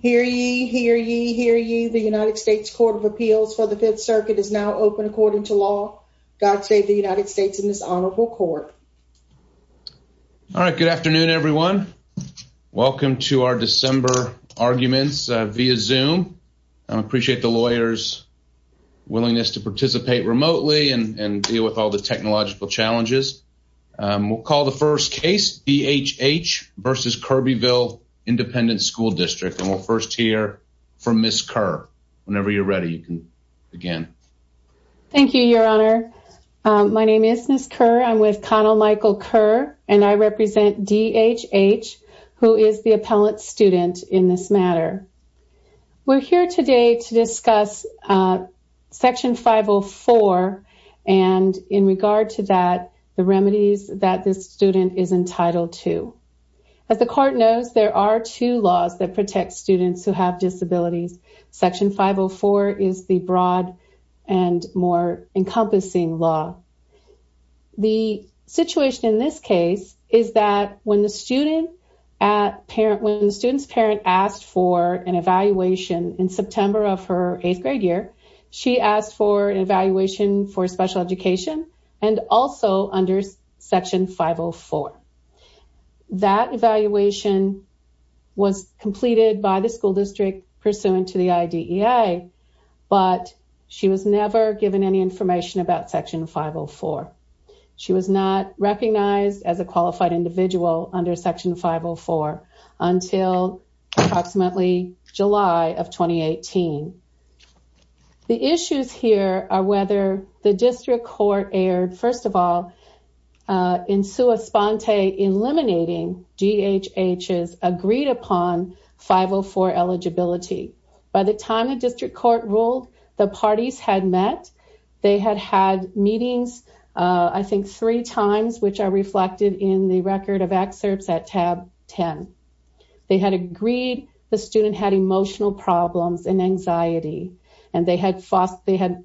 Hear ye, hear ye, hear ye. The United States Court of Appeals for the Fifth Circuit is now open according to law. God save the United States in this honorable court. All right. Good afternoon, everyone. Welcome to our December arguments via Zoom. I appreciate the lawyers' willingness to participate remotely and deal with all the technological challenges. We'll call the first case D.H.H. v. Kirbyville Independent School District. And we'll first hear from Ms. Kerr. Whenever you're ready, you can begin. Thank you, Your Honor. My name is Ms. Kerr. I'm with Connell Michael Kerr, and I represent D.H.H., who is the appellant student in this matter. We're here today to discuss Section 504 and, in regard to that, the remedies that this student is entitled to. As the court knows, there are two laws that protect students who have disabilities. Section 504 is the broad and more encompassing law. The situation in this case is that when a student's parent asked for an evaluation in September of her eighth-grade year, she asked for an evaluation for special education and also under Section 504. That evaluation was completed by the school district pursuant to the IDEA, but she was never given any information about Section 504. She was not recognized as a qualified individual under Section 504 until approximately July of 2018. The issues here are whether the district court erred, first of all, in sua sponte eliminating D.H.H.'s agreed-upon 504 eligibility. By the time the district court ruled, the parties had met. They had had meetings, I think, three times, which are reflected in the record of excerpts at tab 10. They had agreed the student had emotional problems and anxiety, and they had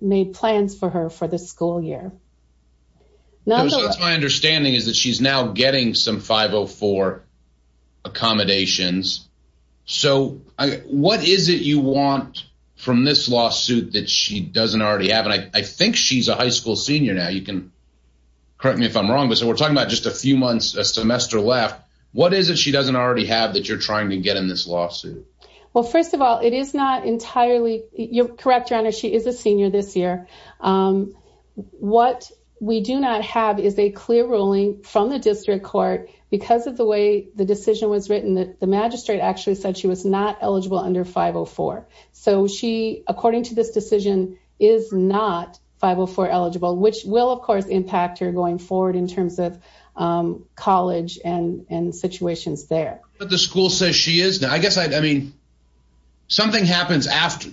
made plans for her for the school year. My understanding is that she's now getting some 504 accommodations. What is it you want from this lawsuit that she doesn't already have? I think she's a high school senior now. You can correct me if I'm wrong, but so we're talking about just a few months, a semester left. What is it she doesn't already have that you're trying to get in this lawsuit? Well, first of all, it is not entirely, you're correct, your honor, she is a senior this year. What we do not have is a clear ruling from the district court because of the way the decision was written that the magistrate actually said she was not eligible under 504. So she, according to this decision, is not 504 eligible, which will, of course, impact her going forward in terms of college and situations there. But the school says she is. Now, I guess, I mean, something happens after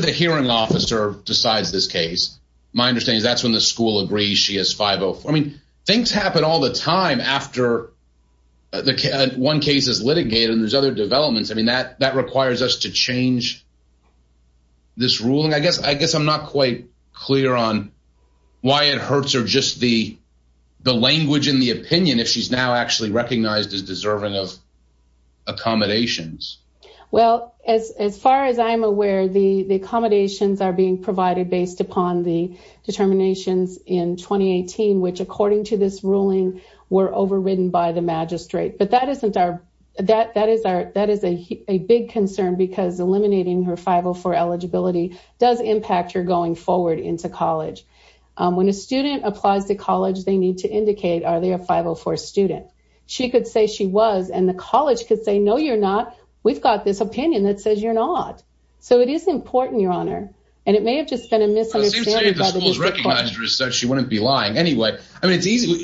the hearing officer decides this case. My understanding is that's when the school agrees she has 504. I mean, things happen all the time after one case is litigated and there's other developments. I mean, that requires us to change this ruling. I guess I guess I'm not quite clear on why it hurts or just the language in the opinion if she's now actually recognized as deserving of accommodations. Well, as far as I'm aware, the accommodations are being provided based upon the determinations in 2018, which, according to this ruling, were overridden by the magistrate. But that isn't our that that is our that is a big concern because eliminating her 504 eligibility does impact her going forward into college. When a student applies to college, they need to indicate, are they a 504 student? She could say she was and the college could say, no, you're not. We've got this opinion that says you're not. So it is important, Your Honor. And it may have just been a misunderstanding. The school's recognized her so she wouldn't be lying anyway. I mean,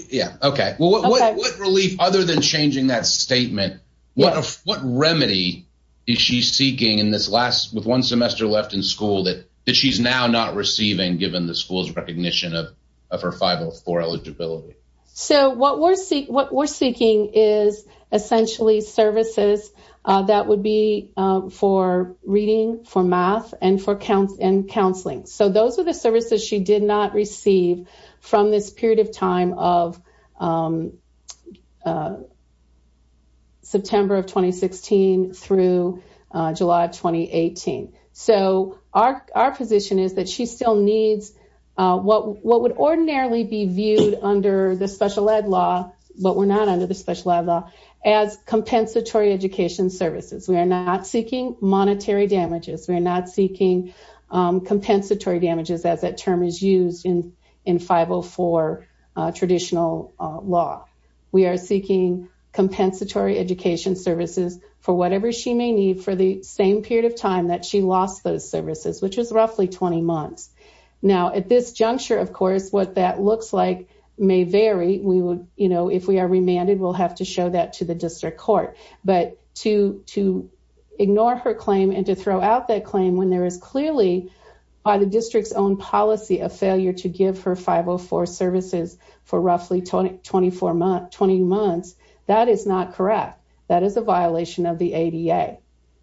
yeah, OK, well, what relief other than changing that statement? What what remedy is she seeking in this last with one semester left in school that that she's now not receiving given the school's recognition of of her 504 eligibility? So what we're what we're seeking is essentially services that would be for reading, for math and for counts and counseling. So those are the services she did not receive from this period of time of. September of 2016 through July of 2018. So our our position is that she still needs what would ordinarily be viewed under the special ed law, but we're not under the special ed law as compensatory education services. We are not seeking monetary damages. We're not seeking compensatory damages as that term is used in in 504 traditional law. We are seeking compensatory education services for whatever she may need for the same period of time that she lost those services, which was roughly 20 months. Now, at this juncture, of course, what that looks like may vary. We would you know, claim and to throw out that claim when there is clearly by the district's own policy of failure to give her 504 services for roughly 24 month 20 months. That is not correct. That is a violation of the ADA.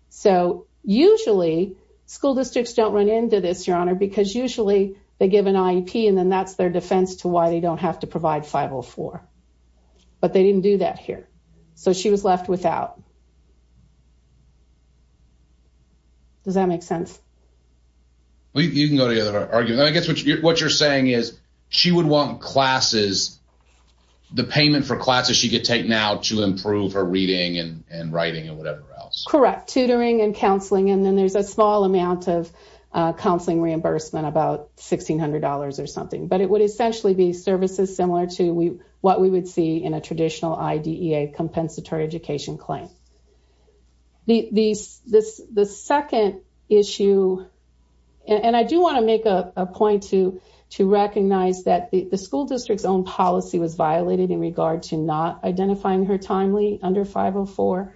So usually school districts don't run into this, your honor, because usually they give an IEP and then that's their defense to why they don't have to provide 504. But they didn't do that here. So she was left without. Does that make sense? Well, you can go to the other argument. I guess what you're saying is she would want classes, the payment for classes she could take now to improve her reading and writing and whatever else. Correct. Tutoring and counseling. And then there's a small amount of counseling reimbursement, about sixteen hundred dollars or something. But it would essentially be services similar to what we would see in a traditional IDEA compensatory education claim. The second issue, and I do want to make a point to recognize that the school district's own policy was violated in regard to not identifying her timely under 504.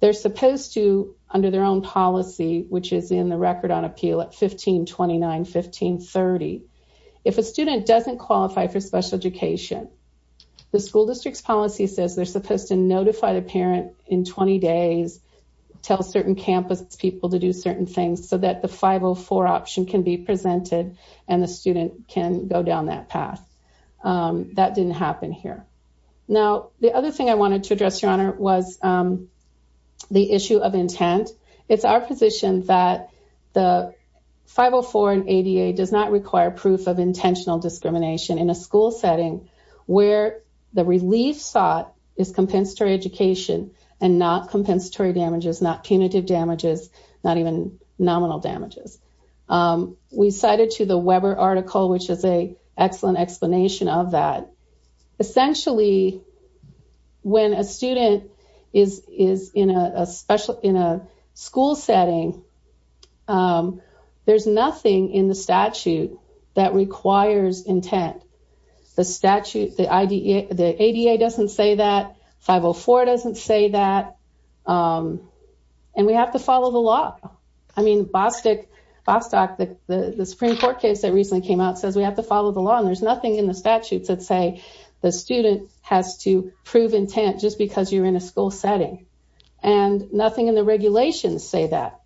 They're supposed to, under their own policy, which is in the record on appeal at 1529, 1530. If a student doesn't qualify for special education, the school district's policy says they're supposed to 20 days, tell certain campus people to do certain things so that the 504 option can be presented and the student can go down that path. That didn't happen here. Now, the other thing I wanted to address, Your Honor, was the issue of intent. It's our position that the 504 and ADA does not require proof of intentional discrimination in a school setting where the relief sought is compensatory education and not compensatory damages, not punitive damages, not even nominal damages. We cited to the Weber article, which is an excellent explanation of that. Essentially, when a student is in a school setting, there's nothing in the statute that requires intent. The statute, the ADA doesn't say that, 504 doesn't say that, and we have to follow the law. I mean, Bostock, the Supreme Court case that recently came out says we have to follow the law, and there's nothing in the statutes that say the student has to prove intent just because you're in a school setting, and nothing in the regulations say that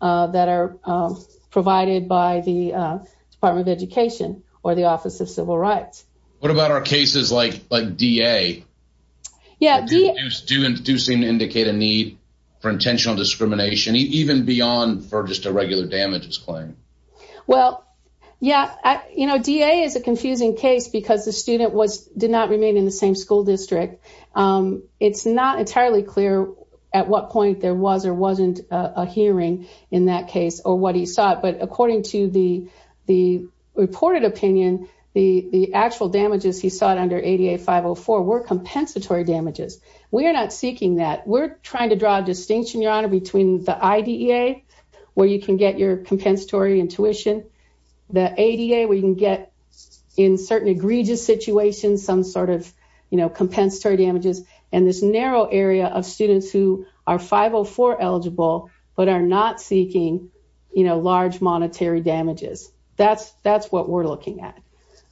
that are provided by the Department of Education or the Office of Civil Rights. What about our cases like DA? Yeah. Do students seem to indicate a need for intentional discrimination even beyond for just a regular damages claim? Well, yeah. You know, DA is a confusing case because the student did not remain in the same school district. It's not entirely clear at what point there was or wasn't a hearing in that case or what he sought, but according to the reported opinion, the actual damages he sought under ADA 504 were compensatory damages. We're not seeking that. We're trying to draw a distinction, Your Honor, between the IDEA, where you can get your compensatory and tuition, the ADA, where you can get in certain egregious situations some sort of, you know, compensatory damages, and this narrow area of students who are 504 eligible but are not seeking, you know, large monetary damages. That's what we're looking at,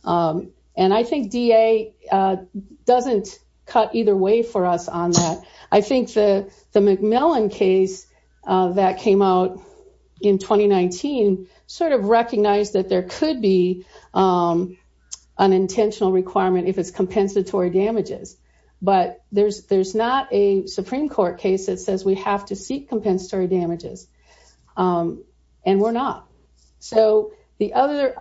and I think DA doesn't cut either way for us on that. I think the McMillan case that came out in 2019 sort of recognized that there could be an intentional requirement if it's compensatory damages, but there's not a Supreme Court case that says we have to seek compensatory damages, and we're not. So, the other...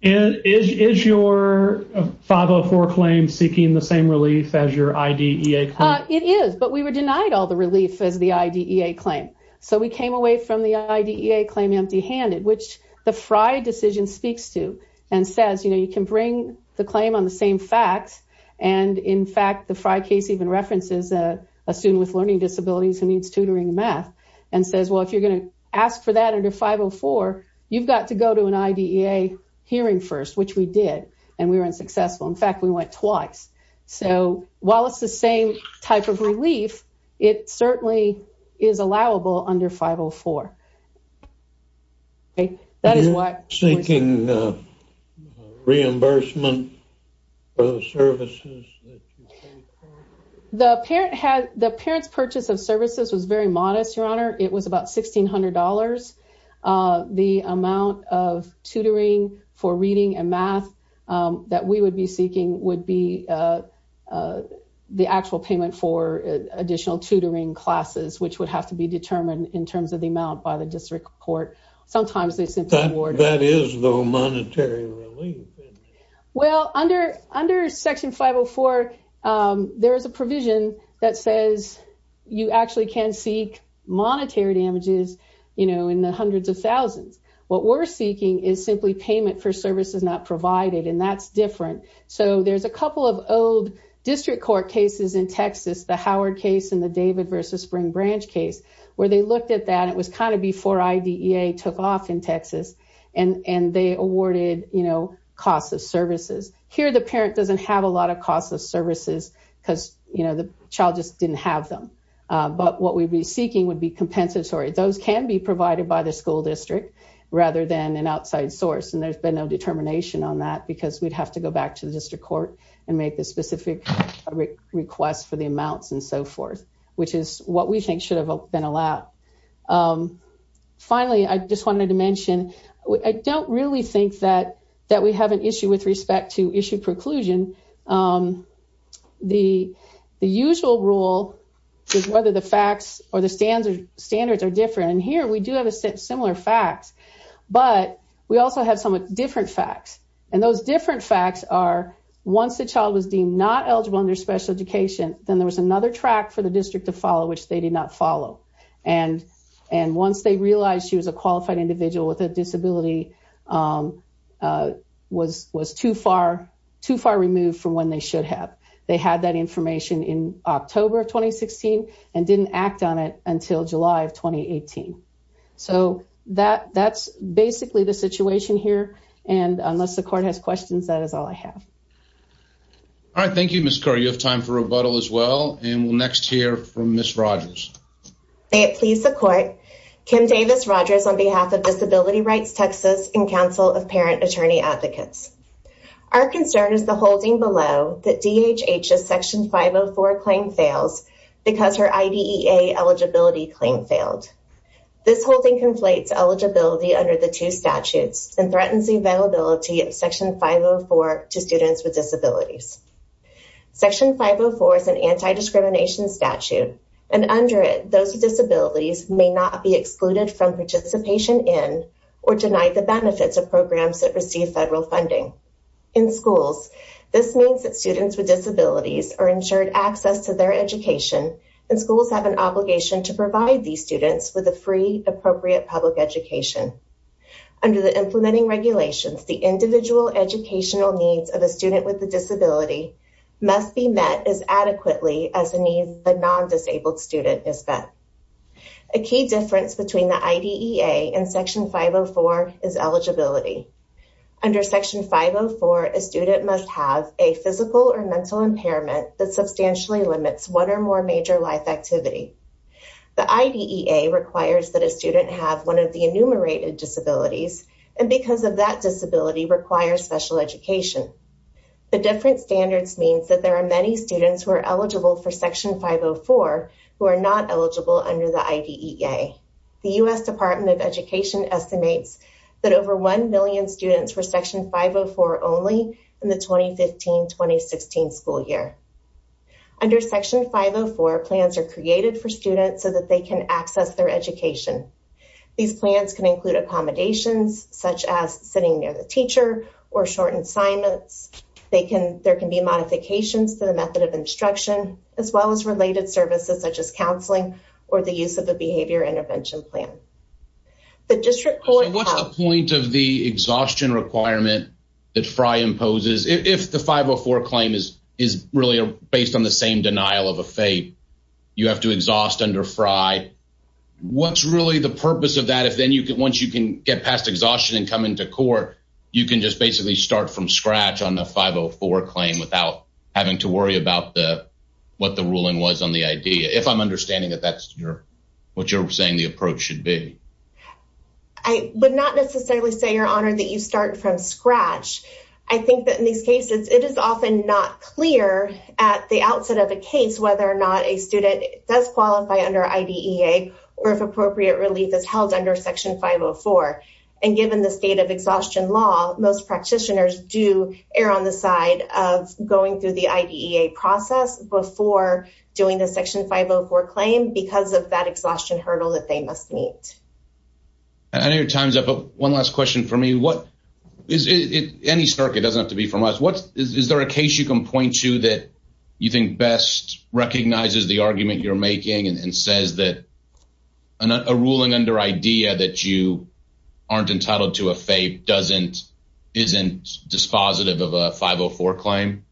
And is your 504 claim seeking the same relief as your IDEA claim? It is, but we were denied all the relief as the IDEA claim, so we came away from the IDEA claim empty-handed, which the Fry decision speaks to and says, you know, you can bring the claim on the same facts, and in fact, the Fry case even references a student with learning disabilities who needs tutoring in math and says, well, if you're going to ask for that under 504, you've got to go to an IDEA hearing first, which we did, and we were unsuccessful. In fact, we went twice. So, while it's the same type of relief, it certainly is allowable under 504. That is why... Are you seeking reimbursement for the services that you pay for? The parent had... The parent's purchase of services was very modest, Your Honor. It was about $1,600. The amount of tutoring for reading and math that we would be seeking would be the actual payment for additional tutoring classes, which would have to be determined in terms of the amount by the district court. Sometimes they simply award... Well, under Section 504, there is a provision that says you actually can seek monetary damages, you know, in the hundreds of thousands. What we're seeking is simply payment for services not provided, and that's different. So, there's a couple of old district court cases in Texas, the Howard case and the David versus Spring Branch case, where they looked at that. It was kind of before IDEA took off in Texas, and they awarded costs of services. Here, the parent doesn't have a lot of costs of services because the child just didn't have them, but what we'd be seeking would be compensatory. Those can be provided by the school district rather than an outside source, and there's been no determination on that because we'd have to go back to the district court and make the specific request for the amounts and so forth, which is what we think should have been allowed. Finally, I just wanted to mention, I don't really think that we have an issue with respect to issue preclusion. The usual rule is whether the facts or the standards are different, and here we do have similar facts, but we also have somewhat different facts, and those different facts are once the child was deemed not eligible under special education, then there was another track for the district to follow, which they did not follow. Once they realized she was a qualified individual with a disability, it was too far removed from when they should have. They had that information in October of 2016 and didn't act on it until July of 2018. That's basically the situation here. Unless the court has questions, that is all I have. All right. Thank you, Ms. Kerr. You have time for rebuttal as well, and we'll next hear from Ms. Rogers. May it please the court, Kim Davis Rogers on behalf of Disability Rights Texas and Council of Parent Attorney Advocates. Our concern is the holding below that DHH's Section 504 claim fails because her IDEA eligibility claim failed. This holding conflates eligibility under the two and threatens the availability of Section 504 to students with disabilities. Section 504 is an anti-discrimination statute, and under it, those with disabilities may not be excluded from participation in or denied the benefits of programs that receive federal funding. In schools, this means that students with disabilities are ensured access to their education, and schools have an obligation to provide these students with a free, appropriate public education. Under the implementing regulations, the individual educational needs of a student with a disability must be met as adequately as the needs of a non-disabled student is met. A key difference between the IDEA and Section 504 is eligibility. Under Section 504, a student must have a physical or mental impairment that substantially limits one or more major life activity. The IDEA requires that a student have one of the enumerated disabilities, and because of that disability requires special education. The different standards means that there are many students who are eligible for Section 504 who are not eligible under the IDEA. The U.S. Department of Education estimates that over plans are created for students so that they can access their education. These plans can include accommodations, such as sitting near the teacher, or shortened assignments. There can be modifications to the method of instruction, as well as related services, such as counseling or the use of a behavior intervention plan. What's the point of the exhaustion requirement that FRI imposes if the 504 claim is really based on the same denial of a fate? You have to exhaust under FRI. What's really the purpose of that? If then you could, once you can get past exhaustion and come into court, you can just basically start from scratch on the 504 claim without having to worry about what the ruling was on the IDEA, if I'm understanding that that's what you're saying the approach should be. I would not necessarily say, Your Honor, that you start from scratch. I think that in these cases, it is often not clear at the outset of a case whether or not a student does qualify under IDEA or if appropriate relief is held under Section 504. And given the state of exhaustion law, most practitioners do err on the side of going through the IDEA process before doing the Section 504 claim because of that exhaustion hurdle that they must meet. I know your time's up, but one last question for me. Any circuit, it doesn't have to be from us, is there a case you can point to that you think best recognizes the argument you're making and says that a ruling under IDEA that you aren't entitled to a fate isn't dispositive of a 504 claim?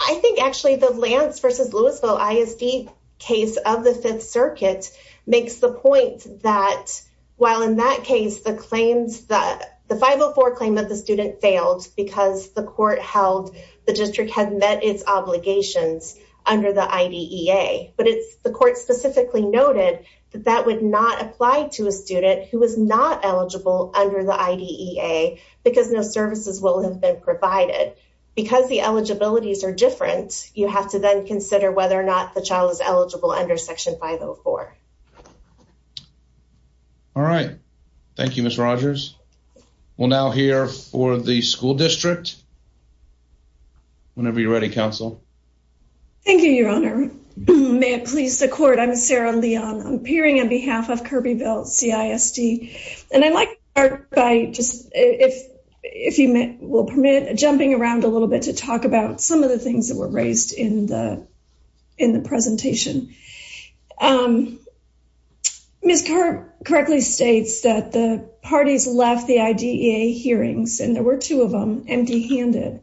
I think actually the Lance v. Louisville ISD case of the Fifth Circuit makes the point that while in that case the 504 claim of the student failed because the court held the district had met its obligations under the IDEA, but the court specifically noted that that would not apply to a student who was not eligible under the IDEA because no services will have been provided. Because the eligibilities are different, you have to then consider whether or not the child is eligible under Section 504. All right. Thank you, Ms. Rogers. We'll now hear for the school district. Whenever you're ready, counsel. Thank you, your honor. May it please the court, I'm Sarah Leon. I'm appearing on behalf of Kirbyville CISD. And I'd like to start by just, if you will permit, jumping around a little bit to talk about some of the things that were raised in the in the presentation. Ms. Kirk correctly states that the parties left the IDEA hearings, and there were two of them, empty-handed.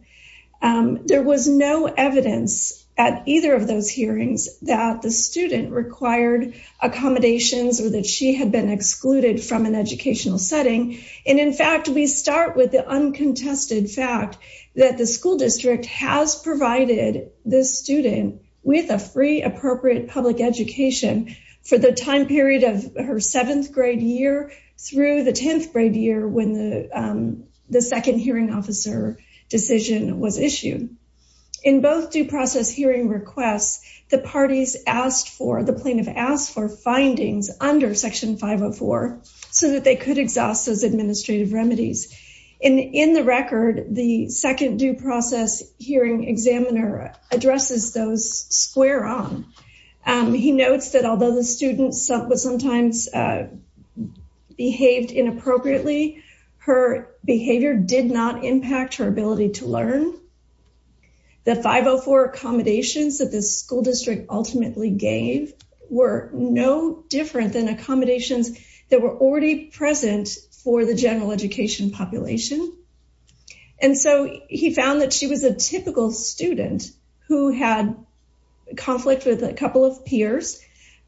There was no evidence at either of those hearings that the student required accommodations or that she had been excluded from an educational setting. And in fact, we start with the uncontested fact that the school district has provided this student with a free appropriate public education for the time period of her seventh grade year through the 10th grade year when the second hearing officer decision was issued. In both due process hearing requests, the parties asked for, the plaintiff asked for, administrative remedies. And in the record, the second due process hearing examiner addresses those square on. He notes that although the student sometimes behaved inappropriately, her behavior did not impact her ability to learn. The 504 accommodations that the school district ultimately gave were no different than accommodations that were already present for the general education population. And so he found that she was a typical student who had conflict with a couple of peers,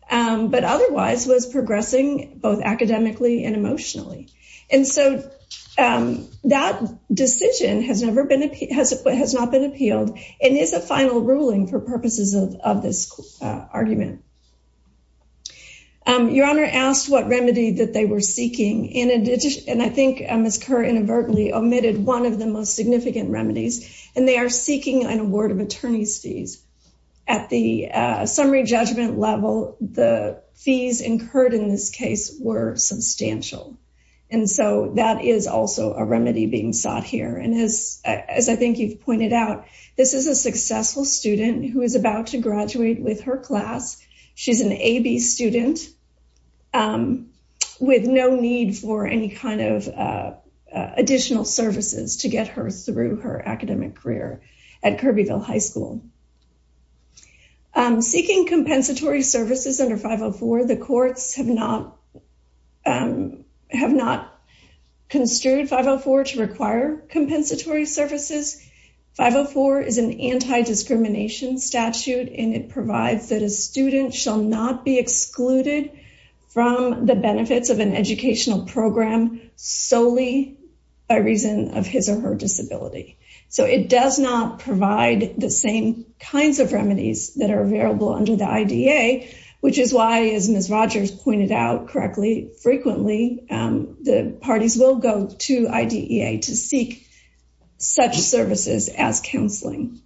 but otherwise was progressing both academically and emotionally. And so that decision has never been appealed, has not been appealed, and is a final ruling for purposes of this argument. Your Honor asked what remedy that they were seeking, and I think Ms. Kerr inadvertently omitted one of the most significant remedies, and they are seeking an award of attorney's fees. At the summary judgment level, the fees incurred in this case were substantial. And so that is also a remedy being sought here. And as I think you've pointed out, this is a successful student who is about to graduate with her class. She's an AB student with no need for any kind of additional services to get her through her academic career at Kirbyville High School. Seeking compensatory services under 504, the courts have not construed 504 to require compensatory services. 504 is an anti-discrimination statute, and it provides that a student shall not be excluded from the benefits of an educational program solely by reason of his or her disability. So it does not provide the same kinds of remedies that are available under the IDA, which is why, as Ms. Rogers pointed out correctly, frequently, the parties will go to IDEA to seek such services as counseling.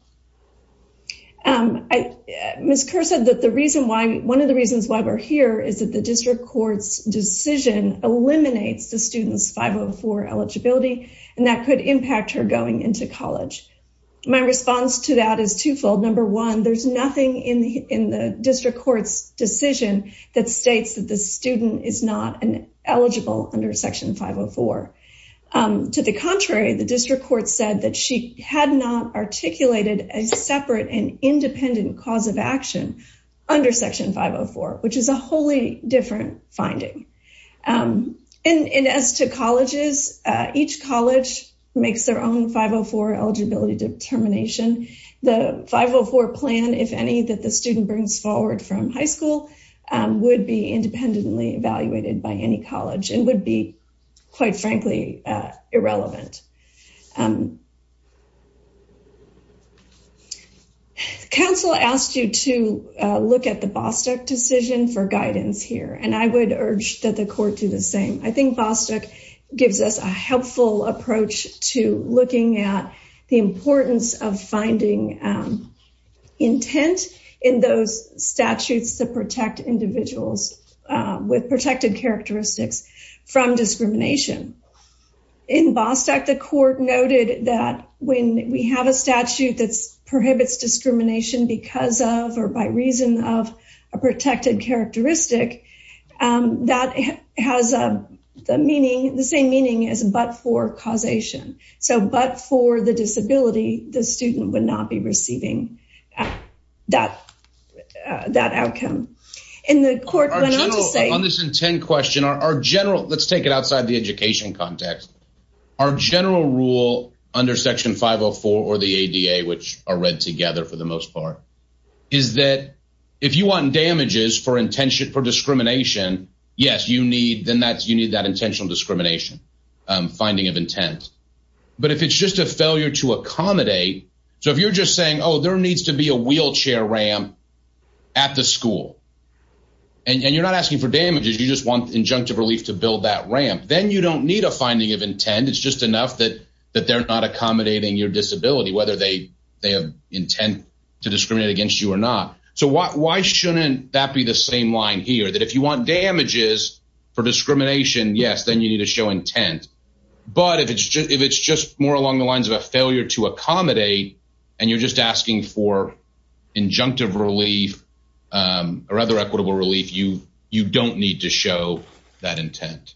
Ms. Kerr said that one of the reasons why we're here is that the district court's decision eliminates the student's 504 eligibility, and that could impact her going into college. My response to that is twofold. Number one, there's nothing in the district court's decision that states that the student is not eligible under Section 504. To the contrary, the district court said that she had not articulated a separate and independent cause of action under Section 504, which is a wholly different finding. And as to colleges, each college makes their own 504 eligibility determination. The 504 plan, if any, that the student brings forward from high school would be independently evaluated by any college and would be, quite frankly, irrelevant. Council asked you to look at the Bostock decision for guidance here, and I would urge that the court do the same. I think Bostock gives us a helpful approach to looking at the importance of finding intent in those statutes to protect individuals with protected characteristics from discrimination. In Bostock, the court noted that when we have a statute that prohibits discrimination because of or by reason of a protected characteristic, that has the same but-for causation. So, but-for the disability, the student would not be receiving that outcome. And the court went on to say— On this intent question, our general—let's take it outside the education context. Our general rule under Section 504 or the ADA, which are read together for the most part, is that if you want damages for discrimination, yes, you need that intentional discrimination. Finding of intent. But if it's just a failure to accommodate—so if you're just saying, oh, there needs to be a wheelchair ramp at the school, and you're not asking for damages, you just want injunctive relief to build that ramp, then you don't need a finding of intent. It's just enough that they're not accommodating your disability, whether they have intent to discriminate against you or not. So why shouldn't that be the same line here, that if you want damages for discrimination, yes, then you need to show intent. But if it's just more along the lines of a failure to accommodate, and you're just asking for injunctive relief or other equitable relief, you don't need to show that intent.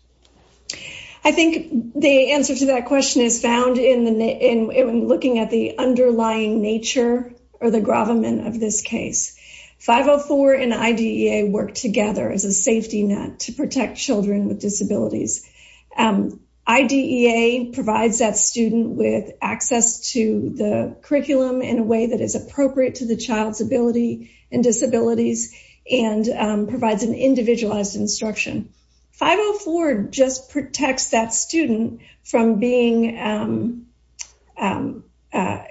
I think the answer to that question is found in looking at the underlying nature or the gravamen of this case. 504 and IDEA work together as a safety net to protect children with disabilities. IDEA provides that student with access to the curriculum in a way that is appropriate to the child's ability and disabilities, and provides an individualized instruction. 504 just protects that student from being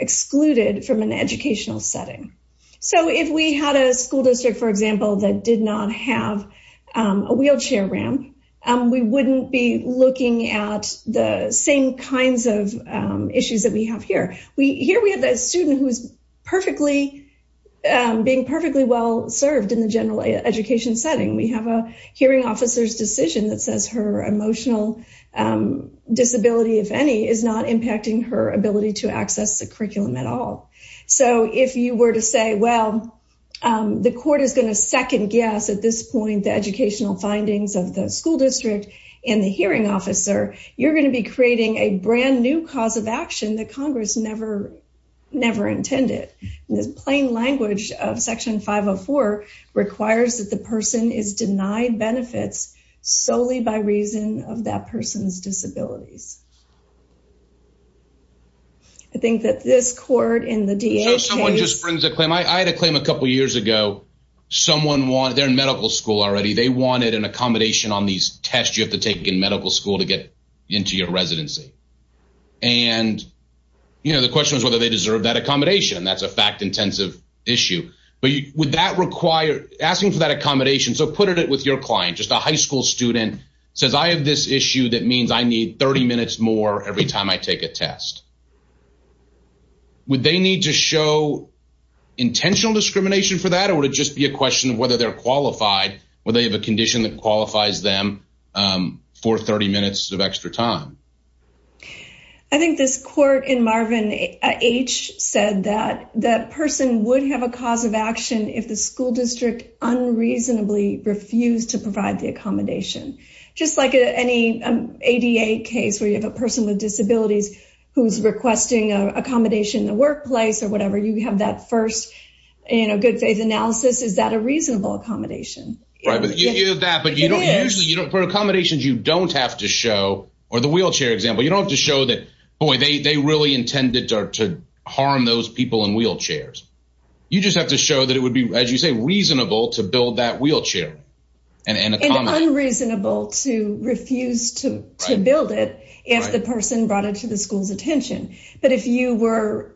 excluded from an educational setting. So if we had a school district, for example, that did not have a wheelchair ramp, we wouldn't be looking at the same kinds of issues that we have here. Here we have a student who's being perfectly well served in the general education setting. We have a hearing officer's decision that says her emotional disability, if any, is not impacting her ability to access the curriculum at all. So if you were to say, well, the court is going to second guess at this point the educational findings of the school district and the hearing officer, you're going to be creating a brand new cause of action that Congress never intended. The plain language of Section 504 requires that the person is denied benefits solely by reason of that person's disabilities. I think that this court in the DA case... So someone just brings a claim. I had a claim a couple years ago. Someone wanted, they're in medical school already, they wanted an accommodation on these and, you know, the question was whether they deserve that accommodation. That's a fact-intensive issue. But would that require... Asking for that accommodation, so put it with your client, just a high school student says, I have this issue that means I need 30 minutes more every time I take a test. Would they need to show intentional discrimination for that or would it just be a question of whether they're qualified? Would they have a condition that qualifies them for 30 minutes of extra time? I think this court in Marvin H. said that that person would have a cause of action if the school district unreasonably refused to provide the accommodation. Just like any ADA case where you have a person with disabilities who's requesting an accommodation in the workplace or whatever, you have that first, you know, good faith analysis. Is that a reasonable accommodation? Right, but you do that, but you don't usually... For accommodations you don't have to show, or the wheelchair example, you don't have to show that, boy, they really intended to harm those people in wheelchairs. You just have to show that it would be, as you say, reasonable to build that wheelchair. And unreasonable to refuse to build it if the person brought it to the school's attention. But if you were...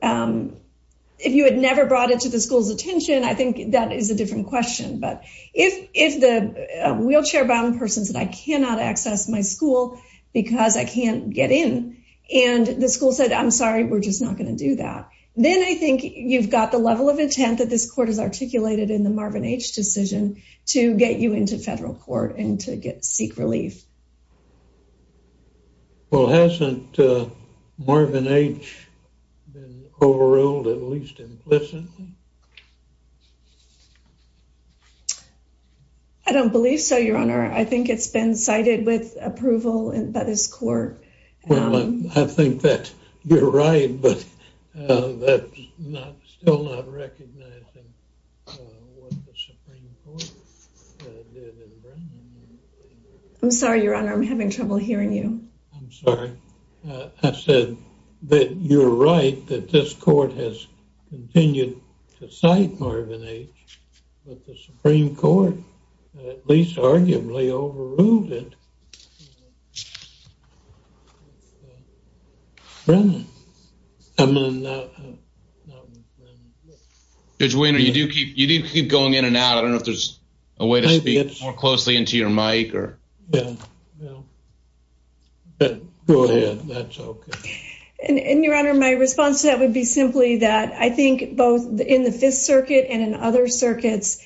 If you had never brought it to the school's attention, I think that is a different question. But if the wheelchair-bound person said, I cannot access my school because I can't get in. And the school said, I'm sorry, we're just not going to do that. Then I think you've got the level of intent that this court has articulated in the Marvin H. decision to get you into federal court and to get... Seek relief. Well, hasn't Marvin H. been overruled, at least implicitly? I don't believe so, Your Honor. I think it's been cited with approval by this court. Well, I think that you're right, but that's still not recognizing what the Supreme Court did in Brown. I'm sorry, Your Honor, I'm having trouble hearing you. I'm sorry. I said that you're right, that this court has continued to be overruled. I don't think it's been cited, Marvin H., that the Supreme Court at least arguably overruled it. Judge Wehner, you do keep going in and out. I don't know if there's a way to speak more closely into your mic or... Go ahead. That's okay. Your Honor, my response to that would be simply that I think both in the Fifth Circuit and in other circuits,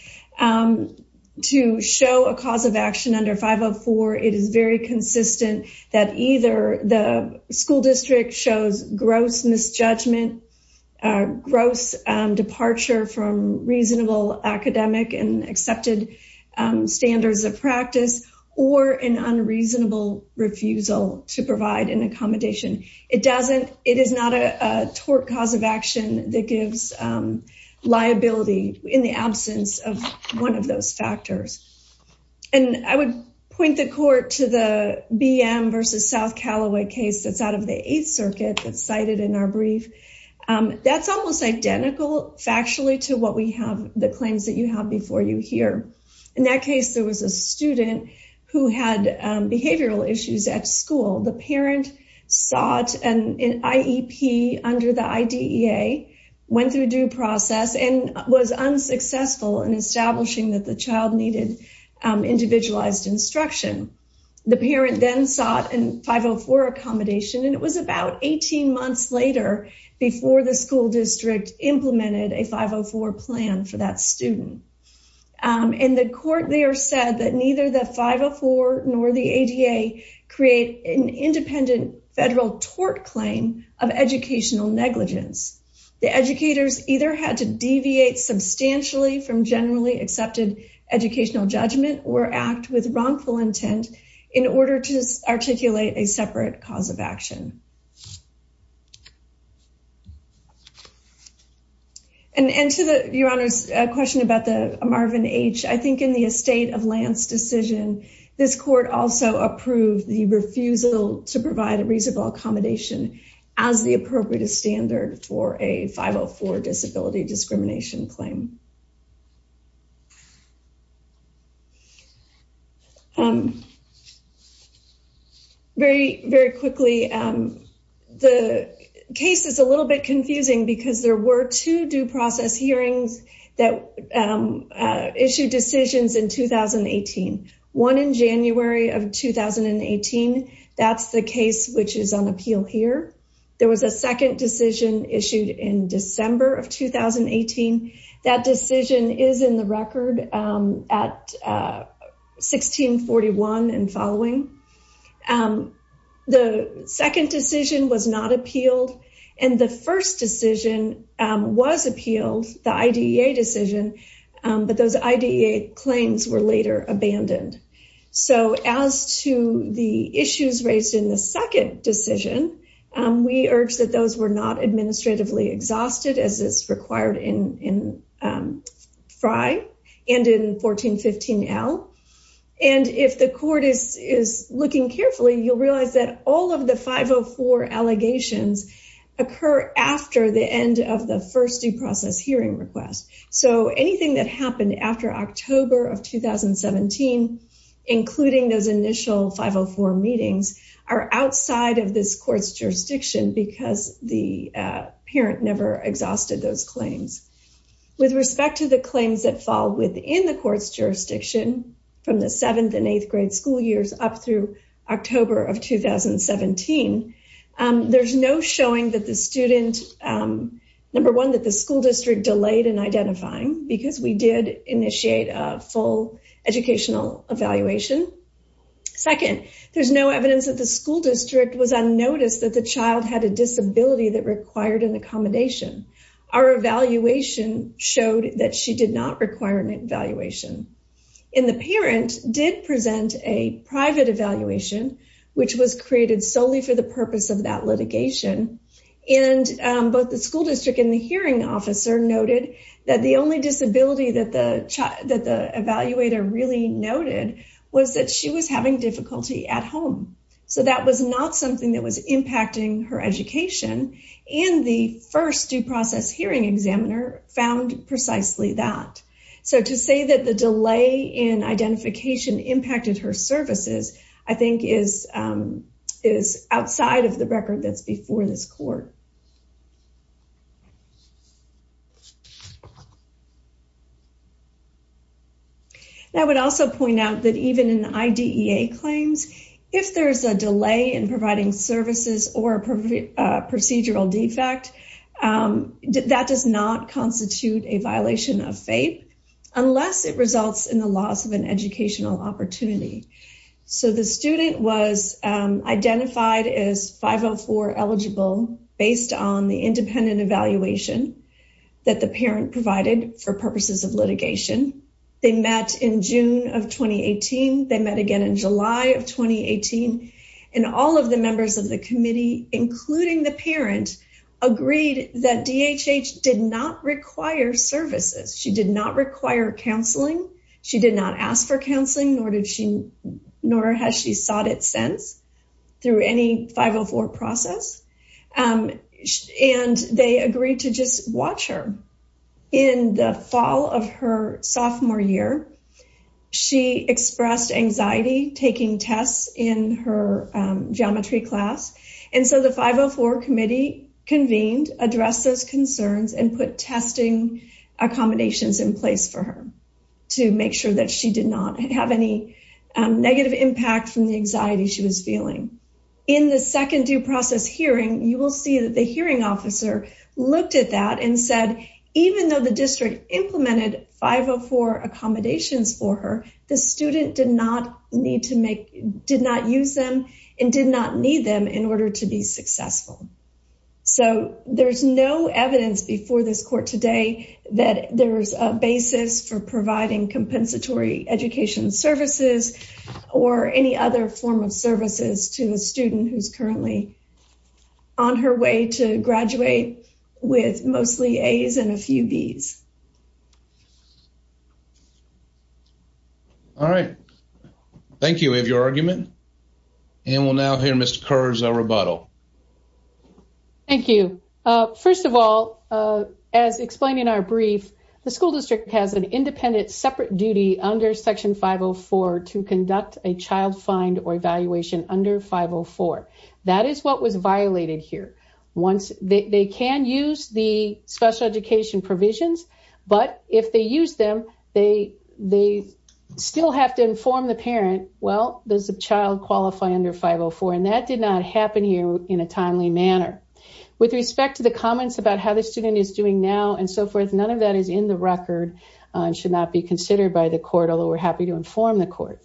to show a cause of action under 504, it is very consistent that either the school district shows gross misjudgment, gross departure from reasonable academic and accepted standards of practice, or an unreasonable refusal to provide an accommodation. It is not a tort cause of action that gives liability in the absence of one of those factors. I would point the court to the BM versus South Callaway case that's out of the Eighth Circuit that's cited in our brief. That's almost identical factually to what we have, the claims that you have before you here. In that case, there was a student who had behavioral issues at school. The parent sought an IEP under the IDEA, went through due process, and was unsuccessful in establishing that the child needed individualized instruction. The parent then sought a 504 accommodation, and it was about 18 months later before the school district implemented a 504 plan for that student. In the court, they are said that neither the 504 nor the ADA create an independent federal tort claim of educational negligence. The educators either had to deviate substantially from generally accepted educational judgment or act with wrongful intent in order to articulate a separate cause of Marvin H. I think in the estate of Lance decision, this court also approved the refusal to provide a reasonable accommodation as the appropriate standard for a 504 disability discrimination claim. Very quickly, the case is a little bit confusing because there were two due process hearings that issued decisions in 2018. One in January of 2018, that's the case which is on appeal here. There was a second decision issued in December of 2018. That decision is in the record at 1641 and following. The second decision was not appealed, and the first decision was appealed, the IDEA decision, but those IDEA claims were later abandoned. As to the issues raised in the second decision, we urge that those were not administratively exhausted as is required in FRI and in 1415L. If the court is looking carefully, you'll realize that all of the 504 allegations occur after the end of the first due process hearing request. Anything that happened after October of 2017, including those initial 504 meetings, are outside of this court's claims. With respect to the claims that fall within the court's jurisdiction from the 7th and 8th grade school years up through October of 2017, there's no showing that the student, number one, that the school district delayed in identifying because we did initiate a full educational evaluation. Second, there's no evidence that the school district was unnoticed that the evaluation showed that she did not require an evaluation. The parent did present a private evaluation, which was created solely for the purpose of that litigation, and both the school district and the hearing officer noted that the only disability that the evaluator really noted was that she was having difficulty at home. So that was not something that was impacting her education, and the first due process hearing examiner found precisely that. So to say that the delay in identification impacted her services, I think, is outside of the record that's before this court. I would also point out that even in IDEA claims, if there's a delay in providing services or a procedural defect, that does not constitute a violation of FAPE, unless it results in the loss of an educational opportunity. So the student was identified as 504 eligible based on the independent evaluation that the parent provided for purposes of litigation. They met in June of 2018. They met again in July of 2018, and all of the members of the committee, including the parent, agreed that DHH did not require services. She did not require counseling. She did not ask for counseling, nor has she sought it since through any 504 process, and they agreed to just watch her. In the fall of her sophomore year, she expressed anxiety taking tests in her geometry class, and so the 504 committee convened, addressed those concerns, and put testing accommodations in place for her to make sure that she did not have any negative impact from the anxiety she was feeling. In the second due process hearing, you will see that the hearing officer looked at that and said, even though the district implemented 504 accommodations for her, the student did not use them and did not need them in order to be successful. So there's no evidence before this court today that there's a basis for providing compensatory education services or any other form of services to the student who's currently on her way to graduate with mostly A's and a few B's. All right. Thank you. We have your argument, and we'll now hear Mr. Kerr's rebuttal. Thank you. First of all, as explained in our brief, the school district has an independent separate duty under Section 504 to conduct a child find or evaluation under 504. That is what was violated here. They can use the special education provisions, but if they use them, they still have to inform the parent, well, does the child qualify under 504? And that did not happen here in a timely manner. With respect to the comments about how the student is doing now and so forth, none of that is in the record and should not be considered by the court, although we're happy to inform the court.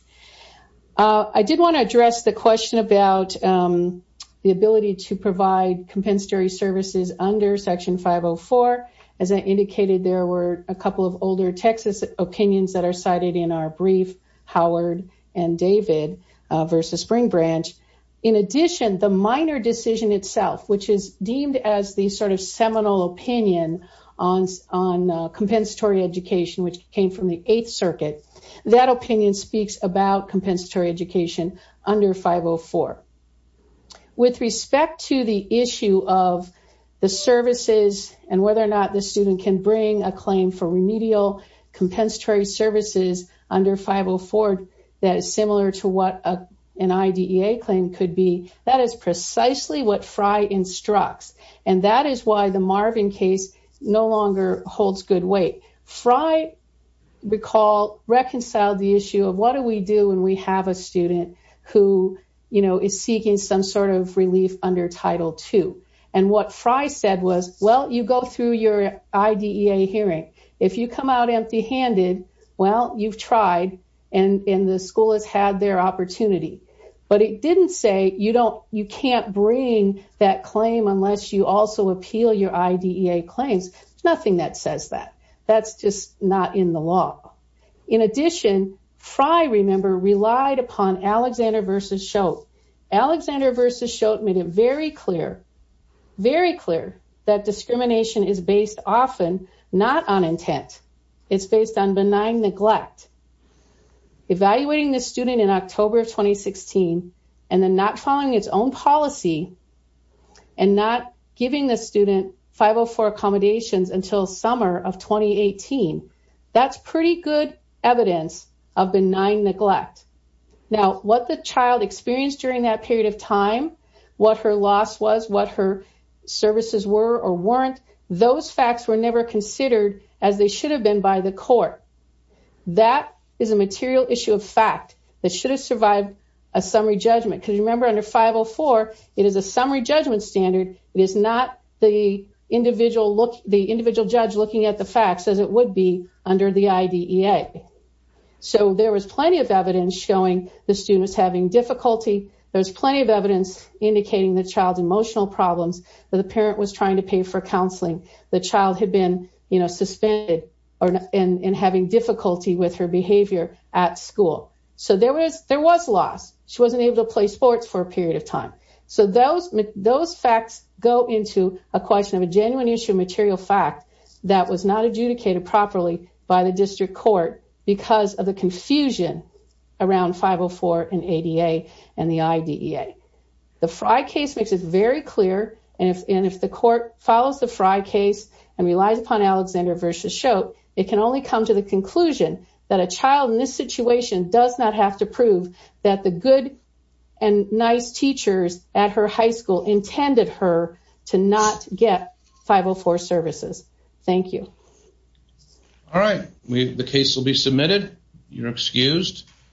I did want to address the question about the ability to provide compensatory services under Section 504. As I indicated, there were a couple of older Texas opinions that are cited in our brief, Howard and David versus Spring Branch. In addition, the minor decision itself, which is deemed as the sort of seminal opinion on compensatory education, which came from the Eighth Circuit, that opinion speaks about compensatory education under 504. With respect to the issue of the services and whether or not the student can bring a claim for remedial compensatory services under 504 that is similar to what an IDEA claim could be, that is precisely what Fry instructs. And that is why the Marvin case no longer holds good weight. Fry reconciled the issue of what do we do when we have a student who is seeking some sort of relief under Title II? And what Fry said was, well, you go through your IDEA hearing. If you come out empty-handed, well, you've tried, and the school has had their opportunity. But it didn't say you can't bring that claim unless you also appeal your IDEA claims. There's nothing that says that. That's just not in the law. In addition, Fry, remember, relied upon Alexander versus Schott. Alexander versus Schott made it very clear, very clear, that discrimination is based often not on intent. It's based on benign neglect. Evaluating the student in October of 2016 and then not following its own policy and not giving the student 504 accommodations until summer of 2018, that's pretty good evidence of benign neglect. Now, what the child experienced during that period of time, what her loss was, what her services were or weren't, those facts were never considered as they should have been by the court. That is a material issue of fact that should have survived a summary judgment. Because remember, under 504, it is a summary judgment standard. It is not the individual judge looking at the facts as it would be under the IDEA. So there was plenty of indicating the child's emotional problems, that the parent was trying to pay for counseling, the child had been suspended in having difficulty with her behavior at school. So there was loss. She wasn't able to play sports for a period of time. So those facts go into a question of a genuine issue of material fact that was not adjudicated properly by the district court because of the confusion around 504 and ADA and the IDEA. The Frye case makes it very clear, and if the court follows the Frye case and relies upon Alexander versus Schott, it can only come to the conclusion that a child in this situation does not have to prove that the good and nice teachers at her high school intended her to not get 504 services. Thank you. All right. The case will be submitted. You're excused.